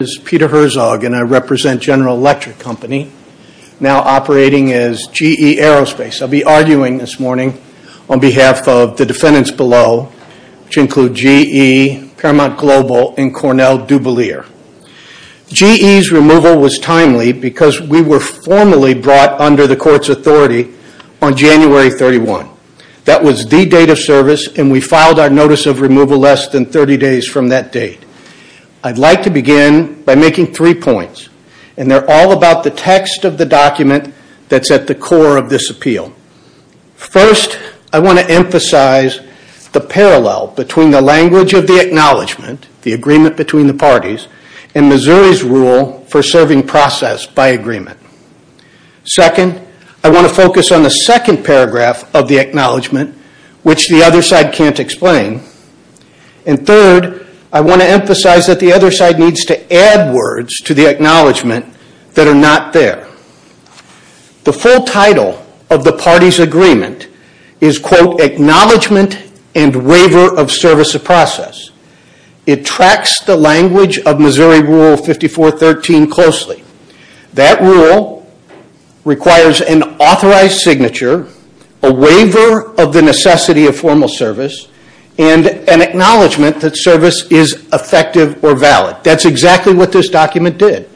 and I represent General Electric Company, now operating as GE Aerospace. I'll be arguing this morning on behalf of the defendants below, which include GE, Paramount Global, and Cornell DuBellier. GE's removal was timely because we were formally brought under the court's authority on January 31. That was the date of service, and we filed our notice of removal less than 30 days from that date. I'd like to begin by making three points, and they're all about the text of the document that's at the core of this appeal. First, I want to emphasize the parallel between the language of the acknowledgment, the agreement between the parties, and Missouri's rule for serving process by agreement. Second, I want to focus on the second paragraph of the acknowledgment, which the other side can't explain. And third, I want to emphasize that the other side needs to add words to the acknowledgment that are not there. The full title of the party's agreement is, quote, Acknowledgement and Waiver of Service of Process. It tracks the language of Missouri Rule 5413 closely. That rule requires an authorized signature, a waiver of the necessity of formal service, and an acknowledgment that service is effective or valid. That's exactly what this document did.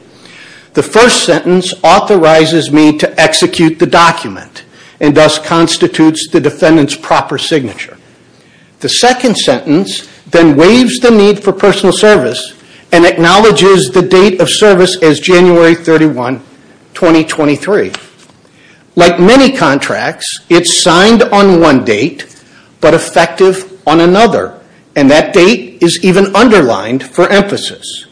The first sentence authorizes me to execute the document, and thus constitutes the defendant's proper signature. The second sentence then waives the need for personal service and acknowledges the date of service as January 31, 2023. Like many contracts, it's signed on one date, but effective on another. And that date is even underlined for emphasis.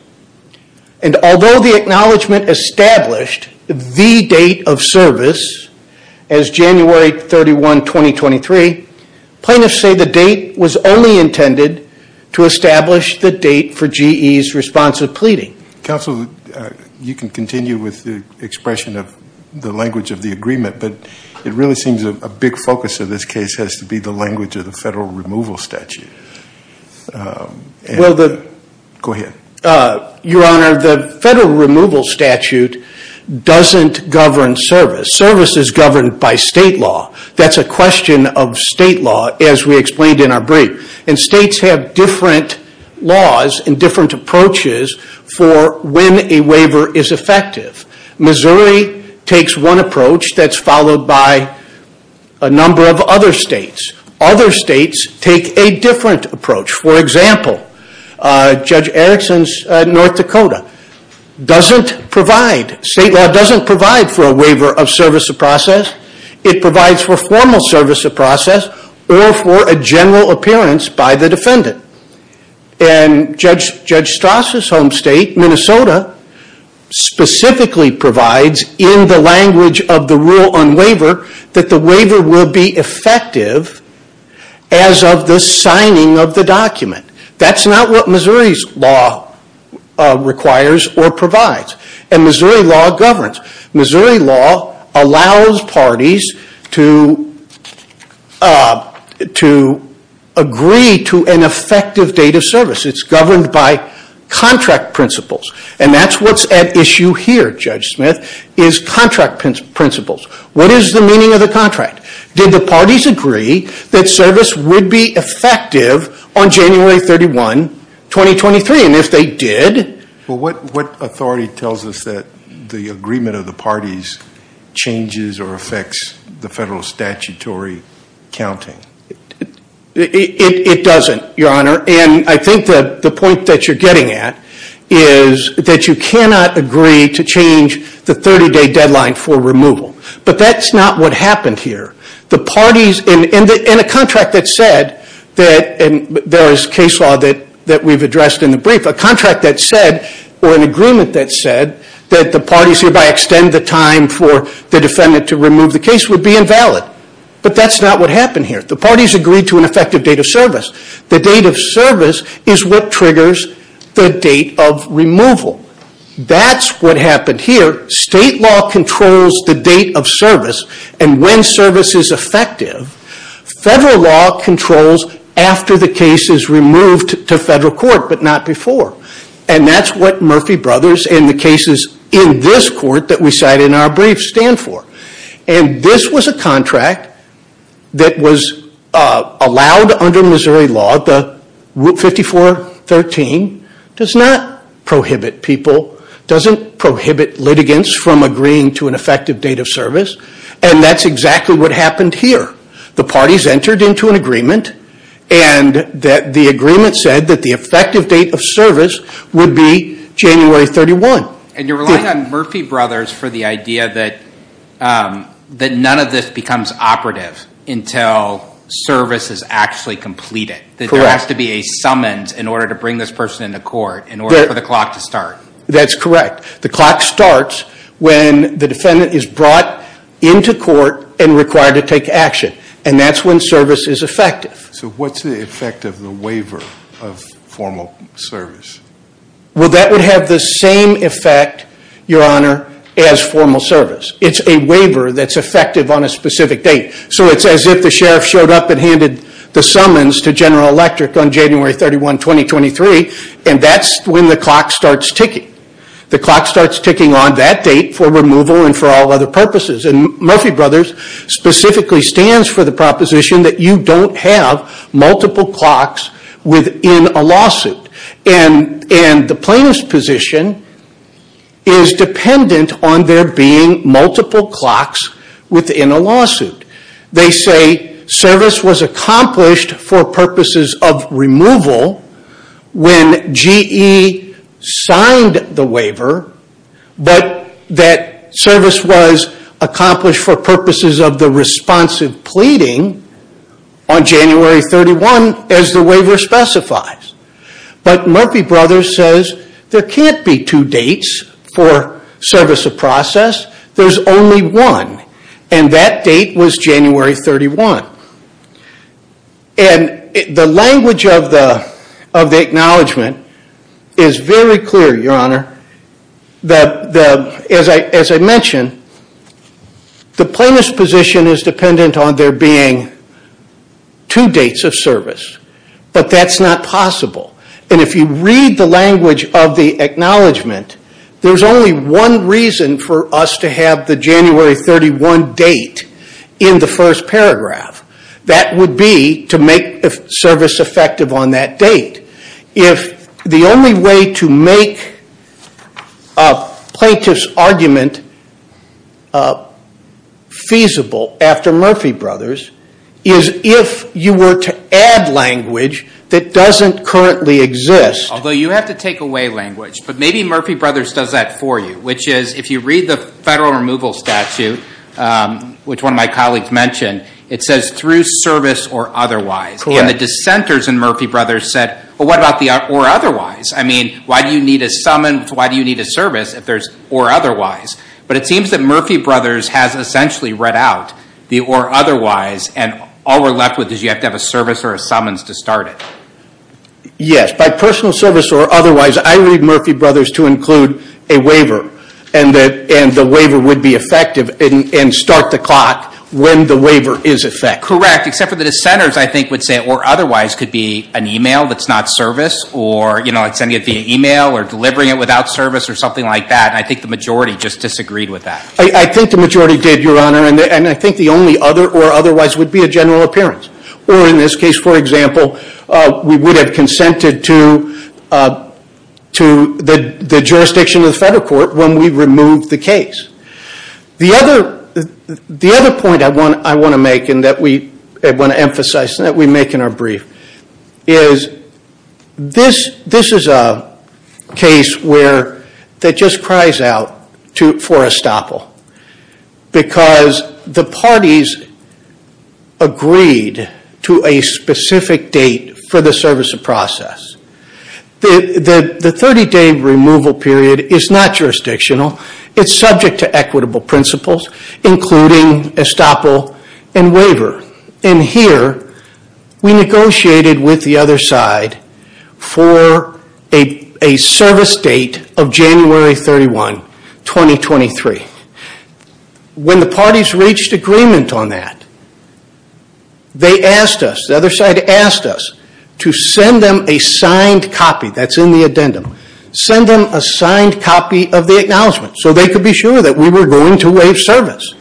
And although the acknowledgment established the date of service as January 31, 2023, plaintiffs say the date was only intended to establish the date for GE's responsive pleading. Counsel, you can continue with the expression of the language of the agreement, but it really seems a big focus of this case has to be the language of the federal removal statute. Go ahead. Your Honor, the federal removal statute doesn't govern service. Service is governed by state law. That's a question of state law, as we explained in our brief. And states have different laws and different approaches for when a waiver is effective. Missouri takes one approach that's followed by a number of other states. Other states take a different approach. For example, Judge Erickson's North Dakota doesn't provide, state law doesn't provide for a waiver of service of process. It provides for formal service of process or for a general appearance by the defendant. And Judge Strasse's home state, Minnesota, specifically provides in the language of the rule on waiver that the waiver will be effective as of the signing of the document. That's not what Missouri's law requires or provides. And Missouri law governs. Missouri law allows parties to agree to an effective date of service. It's governed by contract principles. And that's what's at issue here, Judge Smith, is contract principles. What is the meaning of the contract? Did the parties agree that service would be effective on January 31, 2023? And if they did? Well, what authority tells us that the agreement of the parties changes or affects the federal statutory counting? It doesn't, Your Honor. And I think that the point that you're getting at is that you cannot agree to change the 30-day deadline for removal. But that's not what happened here. And a contract that said, and there is case law that we've addressed in the brief, a contract that said or an agreement that said that the parties hereby extend the time for the defendant to remove the case would be invalid. But that's not what happened here. The parties agreed to an effective date of service. The date of service is what triggers the date of removal. That's what happened here. State law controls the date of service and when service is effective. Federal law controls after the case is removed to federal court, but not before. And that's what Murphy Brothers and the cases in this court that we cite in our brief stand for. And this was a contract that was allowed under Missouri law. 5413 does not prohibit people, doesn't prohibit litigants from agreeing to an effective date of service. And that's exactly what happened here. The parties entered into an agreement and the agreement said that the effective date of service would be January 31. And you're relying on Murphy Brothers for the idea that none of this becomes operative until service is actually completed. That there has to be a summons in order to bring this person into court in order for the clock to start. That's correct. The clock starts when the defendant is brought into court and required to take action. And that's when service is effective. So what's the effect of the waiver of formal service? Well, that would have the same effect, Your Honor, as formal service. It's a waiver that's effective on a specific date. So it's as if the sheriff showed up and handed the summons to General Electric on January 31, 2023. And that's when the clock starts ticking. The clock starts ticking on that date for removal and for all other purposes. And Murphy Brothers specifically stands for the proposition that you don't have multiple clocks within a lawsuit. And the plaintiff's position is dependent on there being multiple clocks within a lawsuit. They say service was accomplished for purposes of removal when GE signed the waiver. But that service was accomplished for purposes of the responsive pleading on January 31 as the waiver specifies. But Murphy Brothers says there can't be two dates for service of process. There's only one. And that date was January 31. And the language of the acknowledgement is very clear, Your Honor. As I mentioned, the plaintiff's position is dependent on there being two dates of service. But that's not possible. And if you read the language of the acknowledgement, there's only one reason for us to have the January 31 date in the first paragraph. That would be to make service effective on that date. If the only way to make a plaintiff's argument feasible after Murphy Brothers is if you were to add language that doesn't currently exist. Although you have to take away language. But maybe Murphy Brothers does that for you. Which is if you read the federal removal statute, which one of my colleagues mentioned, it says through service or otherwise. And the dissenters in Murphy Brothers said, well, what about the or otherwise? I mean, why do you need a summons? Why do you need a service if there's or otherwise? But it seems that Murphy Brothers has essentially read out the or otherwise. And all we're left with is you have to have a service or a summons to start it. Yes. By personal service or otherwise, I read Murphy Brothers to include a waiver. And the waiver would be effective and start the clock when the waiver is effective. Correct. Except for the dissenters, I think, would say or otherwise could be an email that's not service. Or sending it via email or delivering it without service or something like that. And I think the majority just disagreed with that. I think the majority did, Your Honor. And I think the only other or otherwise would be a general appearance. Or in this case, for example, we would have consented to the jurisdiction of the federal court when we removed the case. The other point I want to make and that we want to emphasize and that we make in our brief is this is a case that just cries out for estoppel. Because the parties agreed to a specific date for the service of process. The 30-day removal period is not jurisdictional. It's subject to equitable principles, including estoppel and waiver. And here, we negotiated with the other side for a service date of January 31, 2023. When the parties reached agreement on that, they asked us, the other side asked us, to send them a signed copy. That's in the addendum. Send them a signed copy of the acknowledgment so they could be sure that we were going to waive service.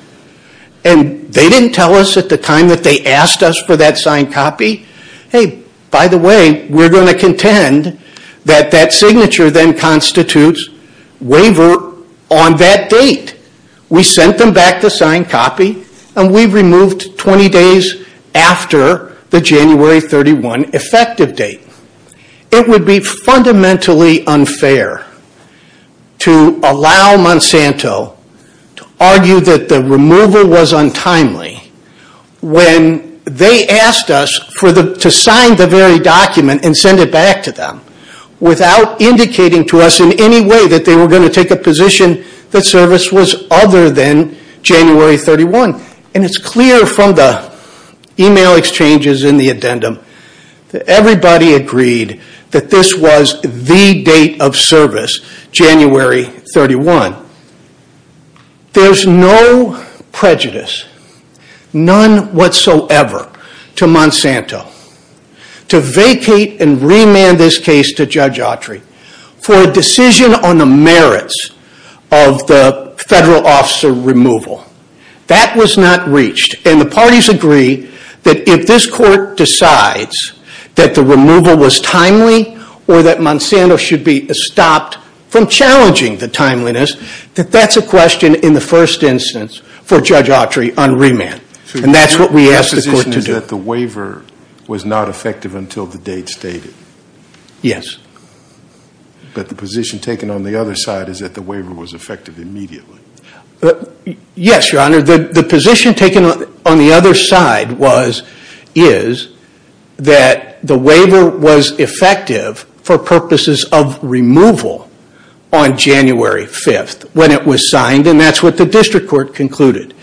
And they didn't tell us at the time that they asked us for that signed copy, hey, by the way, we're going to contend that that signature then constitutes waiver on that date. We sent them back the signed copy and we removed 20 days after the January 31 effective date. It would be fundamentally unfair to allow Monsanto to argue that the removal was untimely when they asked us to sign the very document and send it back to them. Without indicating to us in any way that they were going to take a position that service was other than January 31. And it's clear from the email exchanges in the addendum that everybody agreed that this was the date of service, January 31. There's no prejudice, none whatsoever, to Monsanto to vacate and remand this case to Judge Autry for a decision on the merits of the federal officer removal. That was not reached. And the parties agree that if this court decides that the removal was timely or that Monsanto should be stopped from challenging the timeliness, that that's a question in the first instance for Judge Autry on remand. And that's what we asked the court to do. So your position is that the waiver was not effective until the date stated? Yes. But the position taken on the other side is that the waiver was effective immediately? Yes, Your Honor. The position taken on the other side is that the waiver was effective for purposes of removal on January 5th when it was signed. And that's what the district court concluded.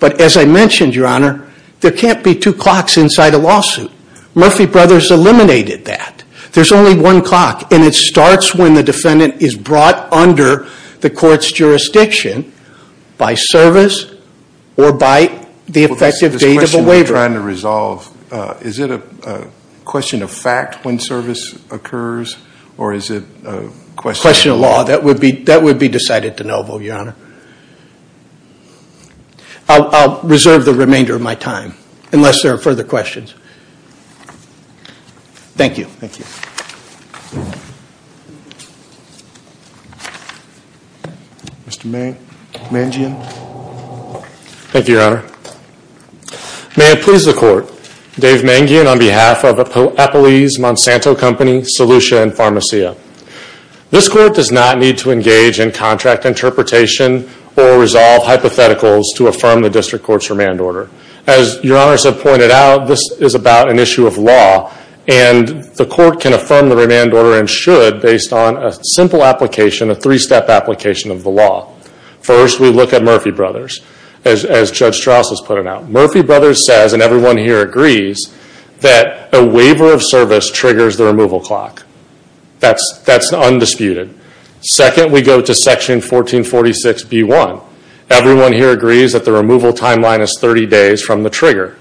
But as I mentioned, Your Honor, there can't be two clocks inside a lawsuit. Murphy Brothers eliminated that. There's only one clock, and it starts when the defendant is brought under the court's jurisdiction by service or by the effective date of a waiver. This question we're trying to resolve, is it a question of fact when service occurs, or is it a question of law? A question of law. That would be decided de novo, Your Honor. I'll reserve the remainder of my time unless there are further questions. Thank you. Thank you. Mr. Mangian. Thank you, Your Honor. May it please the court, Dave Mangian on behalf of Eppley's Monsanto Company, Solution Pharmacia. This court does not need to engage in contract interpretation or resolve hypotheticals to affirm the district court's remand order. As Your Honor has pointed out, this is about an issue of law. And the court can affirm the remand order, and should, based on a simple application, a three-step application of the law. First, we look at Murphy Brothers, as Judge Strauss has put it out. Murphy Brothers says, and everyone here agrees, that a waiver of service triggers the removal clock. That's undisputed. Second, we go to section 1446B1. Everyone here agrees that the removal timeline is 30 days from the trigger.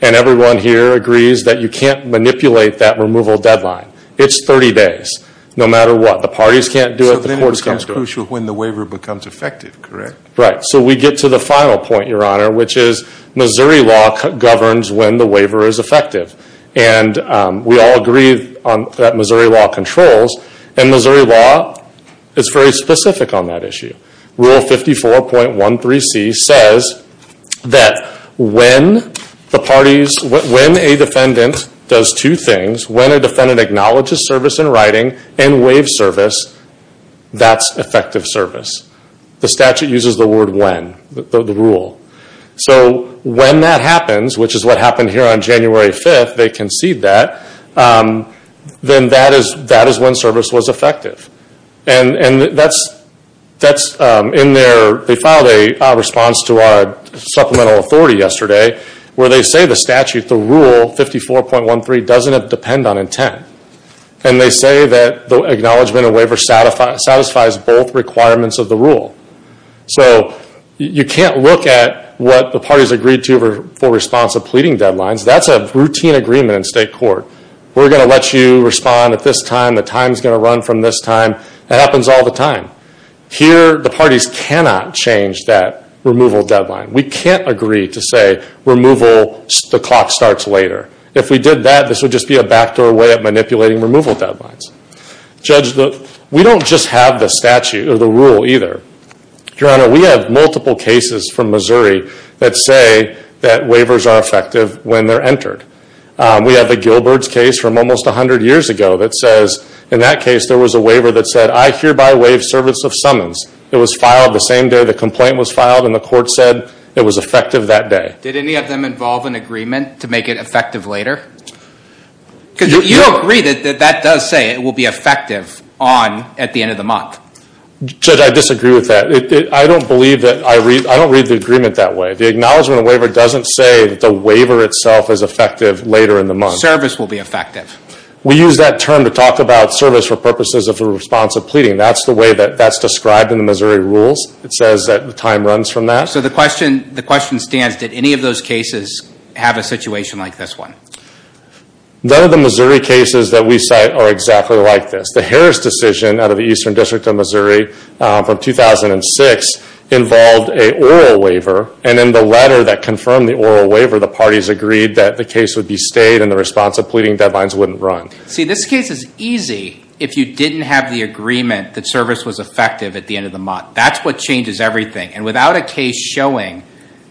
And everyone here agrees that you can't manipulate that removal deadline. It's 30 days, no matter what. The parties can't do it, the courts can't do it. So then it becomes crucial when the waiver becomes effective, correct? Right. So we get to the final point, Your Honor, which is Missouri law governs when the waiver is effective. And we all agree that Missouri law controls. And Missouri law is very specific on that issue. Rule 54.13C says that when a defendant does two things, when a defendant acknowledges service in writing and waives service, that's effective service. The statute uses the word when, the rule. So when that happens, which is what happened here on January 5th, they concede that, then that is when service was effective. And that's in their, they filed a response to our supplemental authority yesterday, where they say the statute, the rule 54.13, doesn't depend on intent. And they say that the acknowledgment of waiver satisfies both requirements of the rule. So you can't look at what the parties agreed to for response of pleading deadlines. That's a routine agreement in state court. We're going to let you respond at this time. The time's going to run from this time. That happens all the time. Here, the parties cannot change that removal deadline. We can't agree to say removal, the clock starts later. If we did that, this would just be a backdoor way of manipulating removal deadlines. Judge, we don't just have the statute or the rule either. Your Honor, we have multiple cases from Missouri that say that waivers are effective when they're entered. We have the Gilbert's case from almost 100 years ago that says, in that case, there was a waiver that said, I hereby waive service of summons. It was filed the same day the complaint was filed, and the court said it was effective that day. Did any of them involve an agreement to make it effective later? Because you agree that that does say it will be effective on, at the end of the month. Judge, I disagree with that. I don't believe that I read, I don't read the agreement that way. The acknowledgement of waiver doesn't say that the waiver itself is effective later in the month. Service will be effective. We use that term to talk about service for purposes of responsive pleading. That's the way that that's described in the Missouri rules. It says that time runs from that. So the question stands, did any of those cases have a situation like this one? None of the Missouri cases that we cite are exactly like this. The Harris decision out of the Eastern District of Missouri from 2006 involved an oral waiver. And in the letter that confirmed the oral waiver, the parties agreed that the case would be stayed and the responsive pleading deadlines wouldn't run. See, this case is easy if you didn't have the agreement that service was effective at the end of the month. That's what changes everything. And without a case showing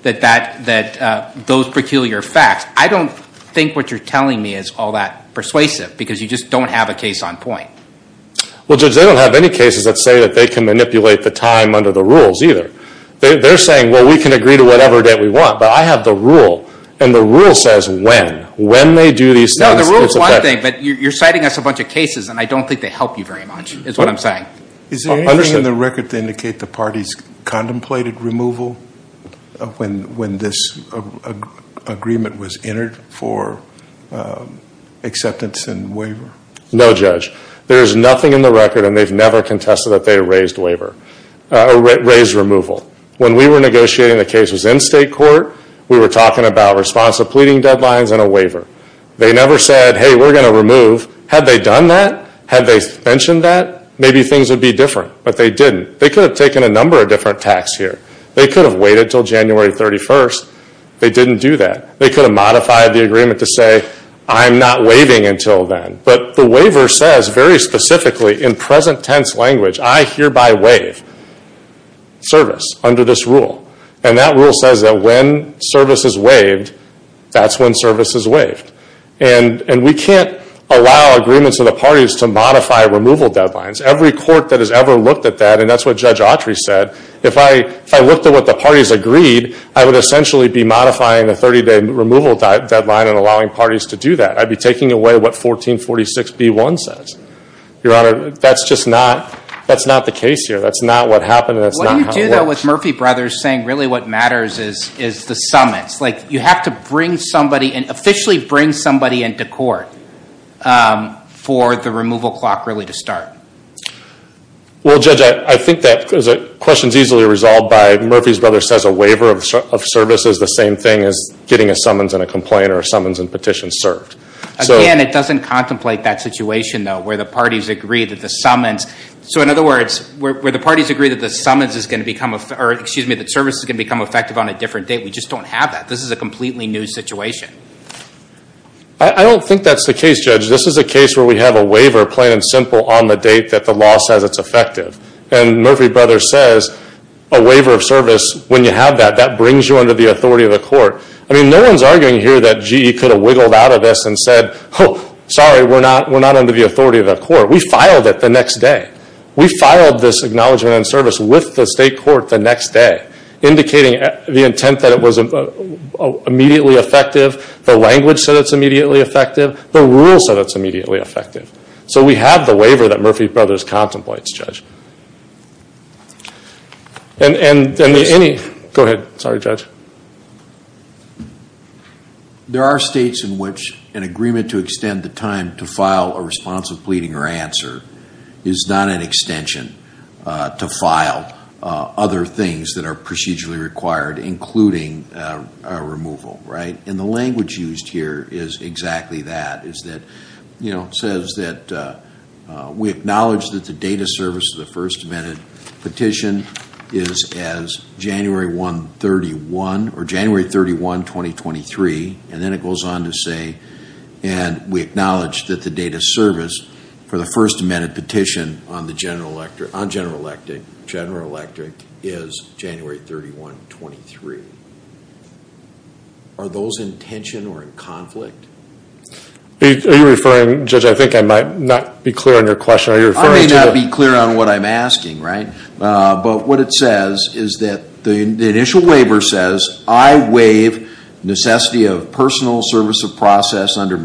that those peculiar facts, I don't think what you're telling me is all that persuasive because you just don't have a case on point. Well, Judge, they don't have any cases that say that they can manipulate the time under the rules either. They're saying, well, we can agree to whatever date we want, but I have the rule. And the rule says when. When they do these things, it's effective. No, the rule is one thing, but you're citing us a bunch of cases, and I don't think they help you very much is what I'm saying. Is there anything in the record to indicate the parties contemplated removal when this agreement was entered for acceptance and waiver? No, Judge. There's nothing in the record, and they've never contested that they raised removal. When we were negotiating the cases in state court, we were talking about responsive pleading deadlines and a waiver. They never said, hey, we're going to remove. Had they done that? Had they mentioned that? Maybe things would be different, but they didn't. They could have taken a number of different tacks here. They could have waited until January 31st. They didn't do that. They could have modified the agreement to say, I'm not waiving until then. But the waiver says very specifically in present tense language, I hereby waive service under this rule. And that rule says that when service is waived, that's when service is waived. And we can't allow agreements of the parties to modify removal deadlines. Every court that has ever looked at that, and that's what Judge Autry said, if I looked at what the parties agreed, I would essentially be modifying the 30-day removal deadline and allowing parties to do that. I'd be taking away what 1446B1 says. Your Honor, that's just not the case here. That's not what happened, and that's not how it works. What do you do, though, with Murphy Brothers saying really what matters is the summits? You have to officially bring somebody into court for the removal clock really to start. Well, Judge, I think that question is easily resolved by Murphy Brothers says a waiver of service is the same thing as getting a summons and a complaint or a summons and petition served. Again, it doesn't contemplate that situation, though, where the parties agree that the summons – so in other words, where the parties agree that the summons is going to become – or excuse me, that service is going to become effective on a different date. We just don't have that. This is a completely new situation. I don't think that's the case, Judge. This is a case where we have a waiver plain and simple on the date that the law says it's effective. And Murphy Brothers says a waiver of service, when you have that, that brings you under the authority of the court. I mean, no one's arguing here that GE could have wiggled out of this and said, oh, sorry, we're not under the authority of the court. We filed it the next day. We filed this acknowledgement and service with the state court the next day, indicating the intent that it was immediately effective. The language said it's immediately effective. The rules said it's immediately effective. So we have the waiver that Murphy Brothers contemplates, Judge. And any – go ahead. Sorry, Judge. There are states in which an agreement to extend the time to file a responsive pleading or answer is not an extension to file other things that are procedurally required, including a removal, right? And the language used here is exactly that, is that, you know, it says that we acknowledge that the date of service of the First Amendment petition is as January 1, 31, or January 31, 2023, and then it goes on to say, and we acknowledge that the date of service for the First Amendment petition on General Electric is January 31, 23. Are those in tension or in conflict? Are you referring – Judge, I think I might not be clear on your question. Are you referring to – I may not be clear on what I'm asking, right? But what it says is that the initial waiver says, I waive necessity of personal service of process under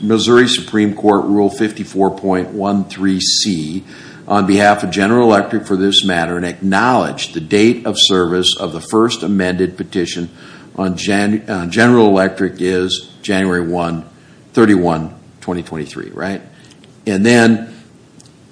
Missouri Supreme Court Rule 54.13C on behalf of General Electric for this matter and acknowledge the date of service of the First Amendment petition on General Electric is January 1, 31, 2023, right? And then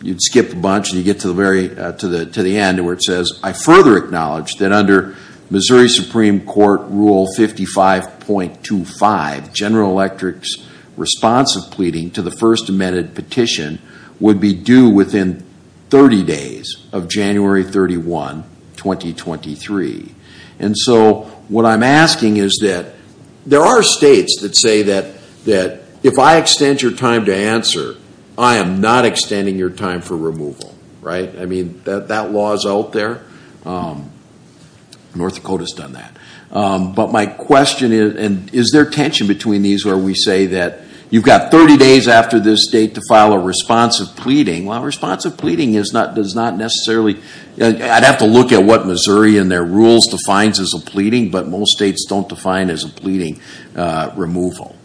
you'd skip a bunch and you get to the end where it says, I further acknowledge that under Missouri Supreme Court Rule 55.25, General Electric's response of pleading to the First Amendment petition would be due within 30 days of January 31, 2023. And so what I'm asking is that there are states that say that if I extend your time to answer, I am not extending your time for removal, right? I mean, that law is out there. North Dakota's done that. But my question is, is there tension between these where we say that you've got 30 days after this date to file a response of pleading? Well, a response of pleading does not necessarily, I'd have to look at what Missouri and their rules defines as a pleading, but most states don't define as a pleading removal,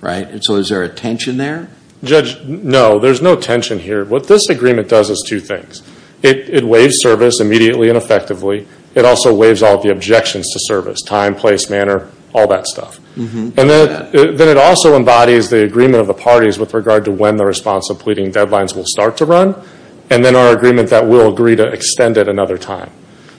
right? And so is there a tension there? Judge, no, there's no tension here. What this agreement does is two things. It waives service immediately and effectively. It also waives all of the objections to service, time, place, manner, all that stuff. And then it also embodies the agreement of the parties with regard to when the response of pleading deadlines will start to run. And then our agreement that we'll agree to extend it another time.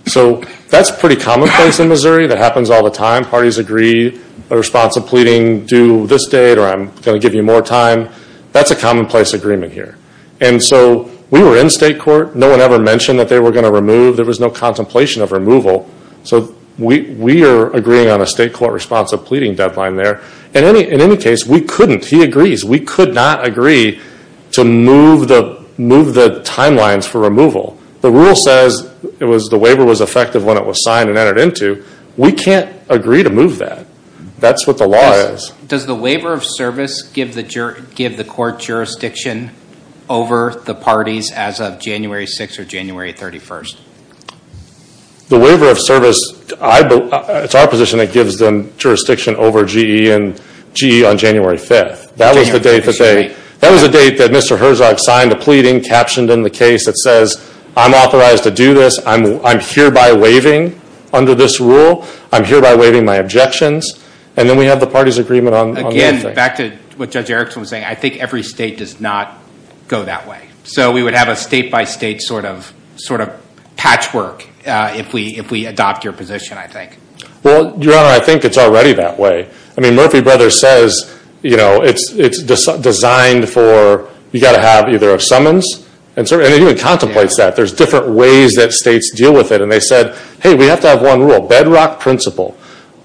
So that's pretty commonplace in Missouri. That happens all the time. Parties agree a response of pleading due this date or I'm going to give you more time. That's a commonplace agreement here. And so we were in state court. No one ever mentioned that they were going to remove. There was no contemplation of removal. So we are agreeing on a state court response of pleading deadline there. In any case, we couldn't. He agrees. We could not agree to move the timelines for removal. The rule says the waiver was effective when it was signed and entered into. We can't agree to move that. That's what the law is. Does the waiver of service give the court jurisdiction over the parties as of January 6th or January 31st? The waiver of service, it's our position it gives them jurisdiction over GE on January 5th. That was the date that Mr. Herzog signed a pleading, captioned in the case that says I'm authorized to do this. I'm hereby waiving under this rule. I'm hereby waiving my objections. And then we have the parties' agreement on that. Again, back to what Judge Erickson was saying. I think every state does not go that way. So we would have a state-by-state sort of patchwork if we adopt your position, I think. Well, Your Honor, I think it's already that way. I mean Murphy Brothers says it's designed for you've got to have either a summons, and it even contemplates that. There's different ways that states deal with it. And they said, hey, we have to have one rule, bedrock principle.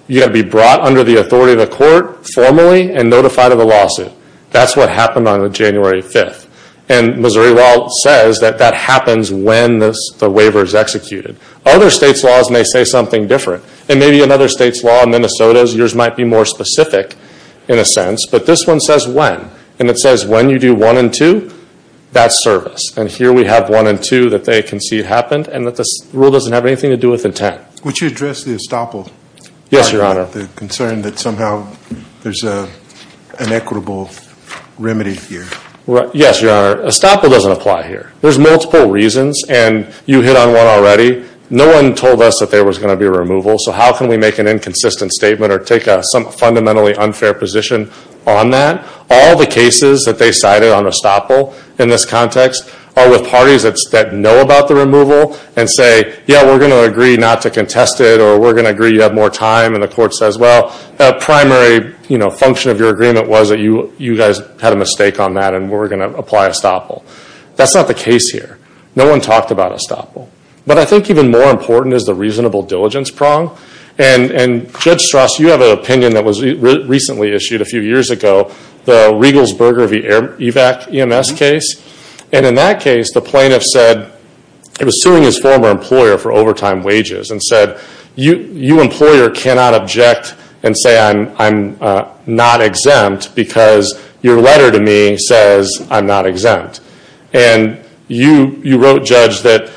You've got to be brought under the authority of the court formally and notified of a lawsuit. That's what happened on January 5th. And Missouri law says that that happens when the waiver is executed. Other states' laws may say something different. And maybe another state's law, Minnesota's, yours might be more specific in a sense. But this one says when. And it says when you do 1 and 2, that's service. And here we have 1 and 2 that they concede happened, and that this rule doesn't have anything to do with intent. Would you address the estoppel? Yes, Your Honor. The concern that somehow there's an equitable remedy here. Yes, Your Honor. Estoppel doesn't apply here. There's multiple reasons, and you hit on one already. No one told us that there was going to be a removal, so how can we make an inconsistent statement or take a fundamentally unfair position on that? All the cases that they cited on estoppel in this context are with parties that know about the removal and say, yeah, we're going to agree not to contest it, or we're going to agree you have more time. And the court says, well, the primary function of your agreement was that you guys had a mistake on that and we're going to apply estoppel. That's not the case here. No one talked about estoppel. But I think even more important is the reasonable diligence prong. And Judge Strass, you have an opinion that was recently issued a few years ago, the Regals-Berger v. EVAC EMS case. And in that case, the plaintiff said he was suing his former employer for overtime wages and said, you employer cannot object and say I'm not exempt because your letter to me says I'm not exempt. And you wrote, Judge, that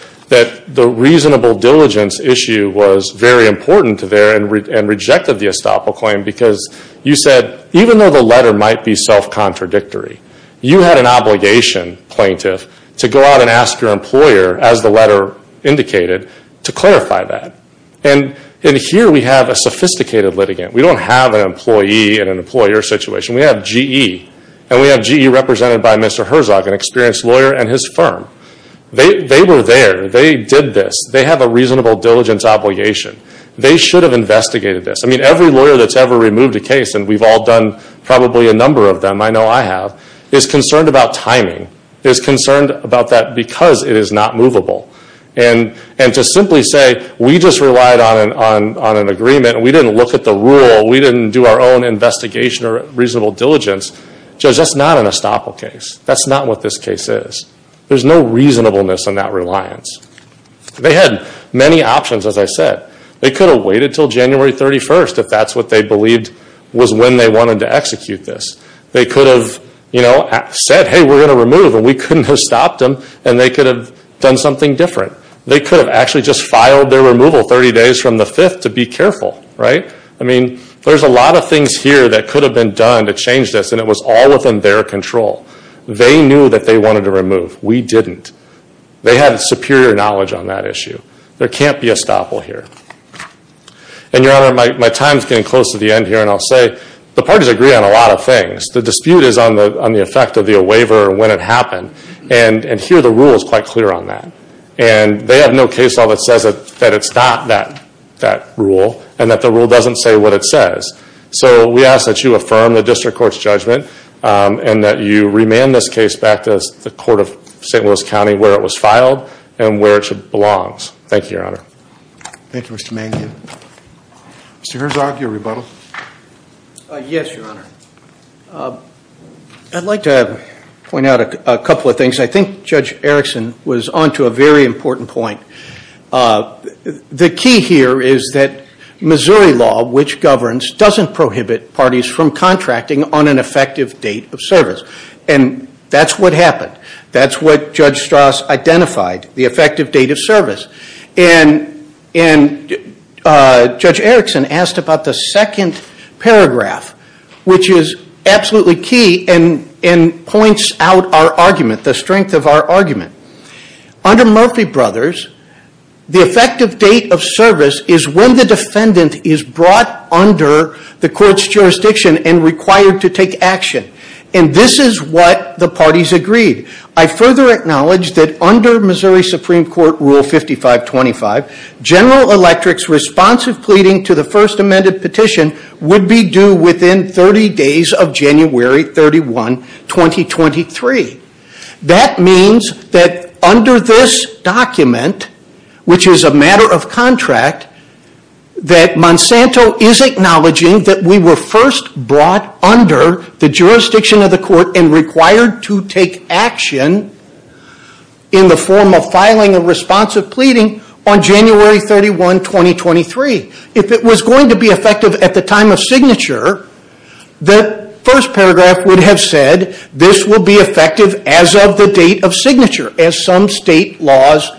the reasonable diligence issue was very important to there and rejected the estoppel claim because you said, even though the letter might be self-contradictory, you had an obligation, plaintiff, to go out and ask your employer, as the letter indicated, to clarify that. And here we have a sophisticated litigant. We don't have an employee in an employer situation. We have GE, and we have GE represented by Mr. Herzog, an experienced lawyer, and his firm. They were there. They did this. They have a reasonable diligence obligation. They should have investigated this. I mean, every lawyer that's ever removed a case, and we've all done probably a number of them, I know I have, is concerned about timing, is concerned about that because it is not movable. And to simply say we just relied on an agreement and we didn't look at the rule, we didn't do our own investigation or reasonable diligence, Judge, that's not an estoppel case. That's not what this case is. There's no reasonableness in that reliance. They had many options, as I said. They could have waited until January 31st if that's what they believed was when they wanted to execute this. They could have, you know, said, hey, we're going to remove, and we couldn't have stopped them, and they could have done something different. They could have actually just filed their removal 30 days from the 5th to be careful, right? I mean, there's a lot of things here that could have been done to change this, and it was all within their control. They knew that they wanted to remove. We didn't. They had superior knowledge on that issue. There can't be estoppel here. And, Your Honor, my time is getting close to the end here, and I'll say the parties agree on a lot of things. The dispute is on the effect of the waiver and when it happened, and here the rule is quite clear on that. And they have no case law that says that it's not that rule and that the rule doesn't say what it says. So we ask that you affirm the district court's judgment and that you remand this case back to the court of St. Louis County where it was filed and where it belongs. Thank you, Your Honor. Thank you, Mr. Mangin. Mr. Herzog, your rebuttal. Yes, Your Honor. I'd like to point out a couple of things. I think Judge Erickson was on to a very important point. The key here is that Missouri law, which governs, doesn't prohibit parties from contracting on an effective date of service, and that's what happened. That's what Judge Strauss identified, the effective date of service. And Judge Erickson asked about the second paragraph, which is absolutely key and points out our argument, the strength of our argument. Under Murphy Brothers, the effective date of service is when the defendant is brought under the court's jurisdiction and required to take action. And this is what the parties agreed. I further acknowledge that under Missouri Supreme Court Rule 5525, General Electric's responsive pleading to the first amended petition would be due within 30 days of January 31, 2023. That means that under this document, which is a matter of contract, that Monsanto is acknowledging that we were first brought under the jurisdiction of the court and required to take action in the form of filing a responsive pleading on January 31, 2023. If it was going to be effective at the time of signature, the first paragraph would have said this will be effective as of the date of signature, as some state laws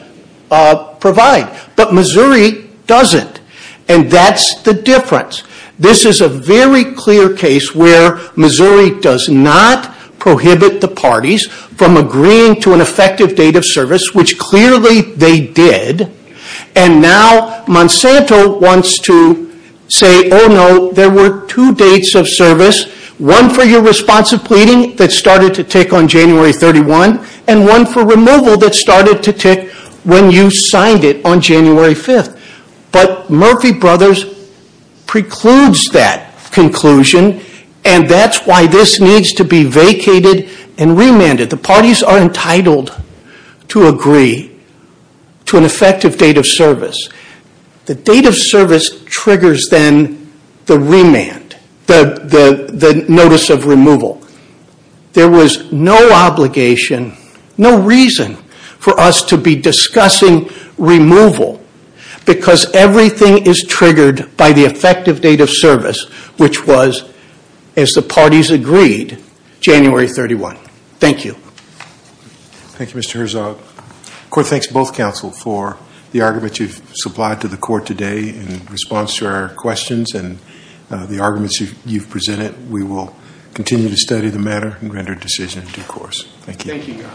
provide. But Missouri doesn't, and that's the difference. This is a very clear case where Missouri does not prohibit the parties from agreeing to an effective date of service, which clearly they did. And now Monsanto wants to say, oh no, there were two dates of service, one for your responsive pleading that started to take on January 31, and one for removal that started to take when you signed it on January 5. But Murphy Brothers precludes that conclusion, and that's why this needs to be vacated and remanded. The parties are entitled to agree to an effective date of service. The date of service triggers then the remand, the notice of removal. There was no obligation, no reason for us to be discussing removal because everything is triggered by the effective date of service, which was, as the parties agreed, January 31. Thank you. Thank you, Mr. Herzog. The court thanks both counsel for the argument you've supplied to the court today in response to our questions and the arguments you've presented. We will continue to study the matter and render a decision in due course. Thank you.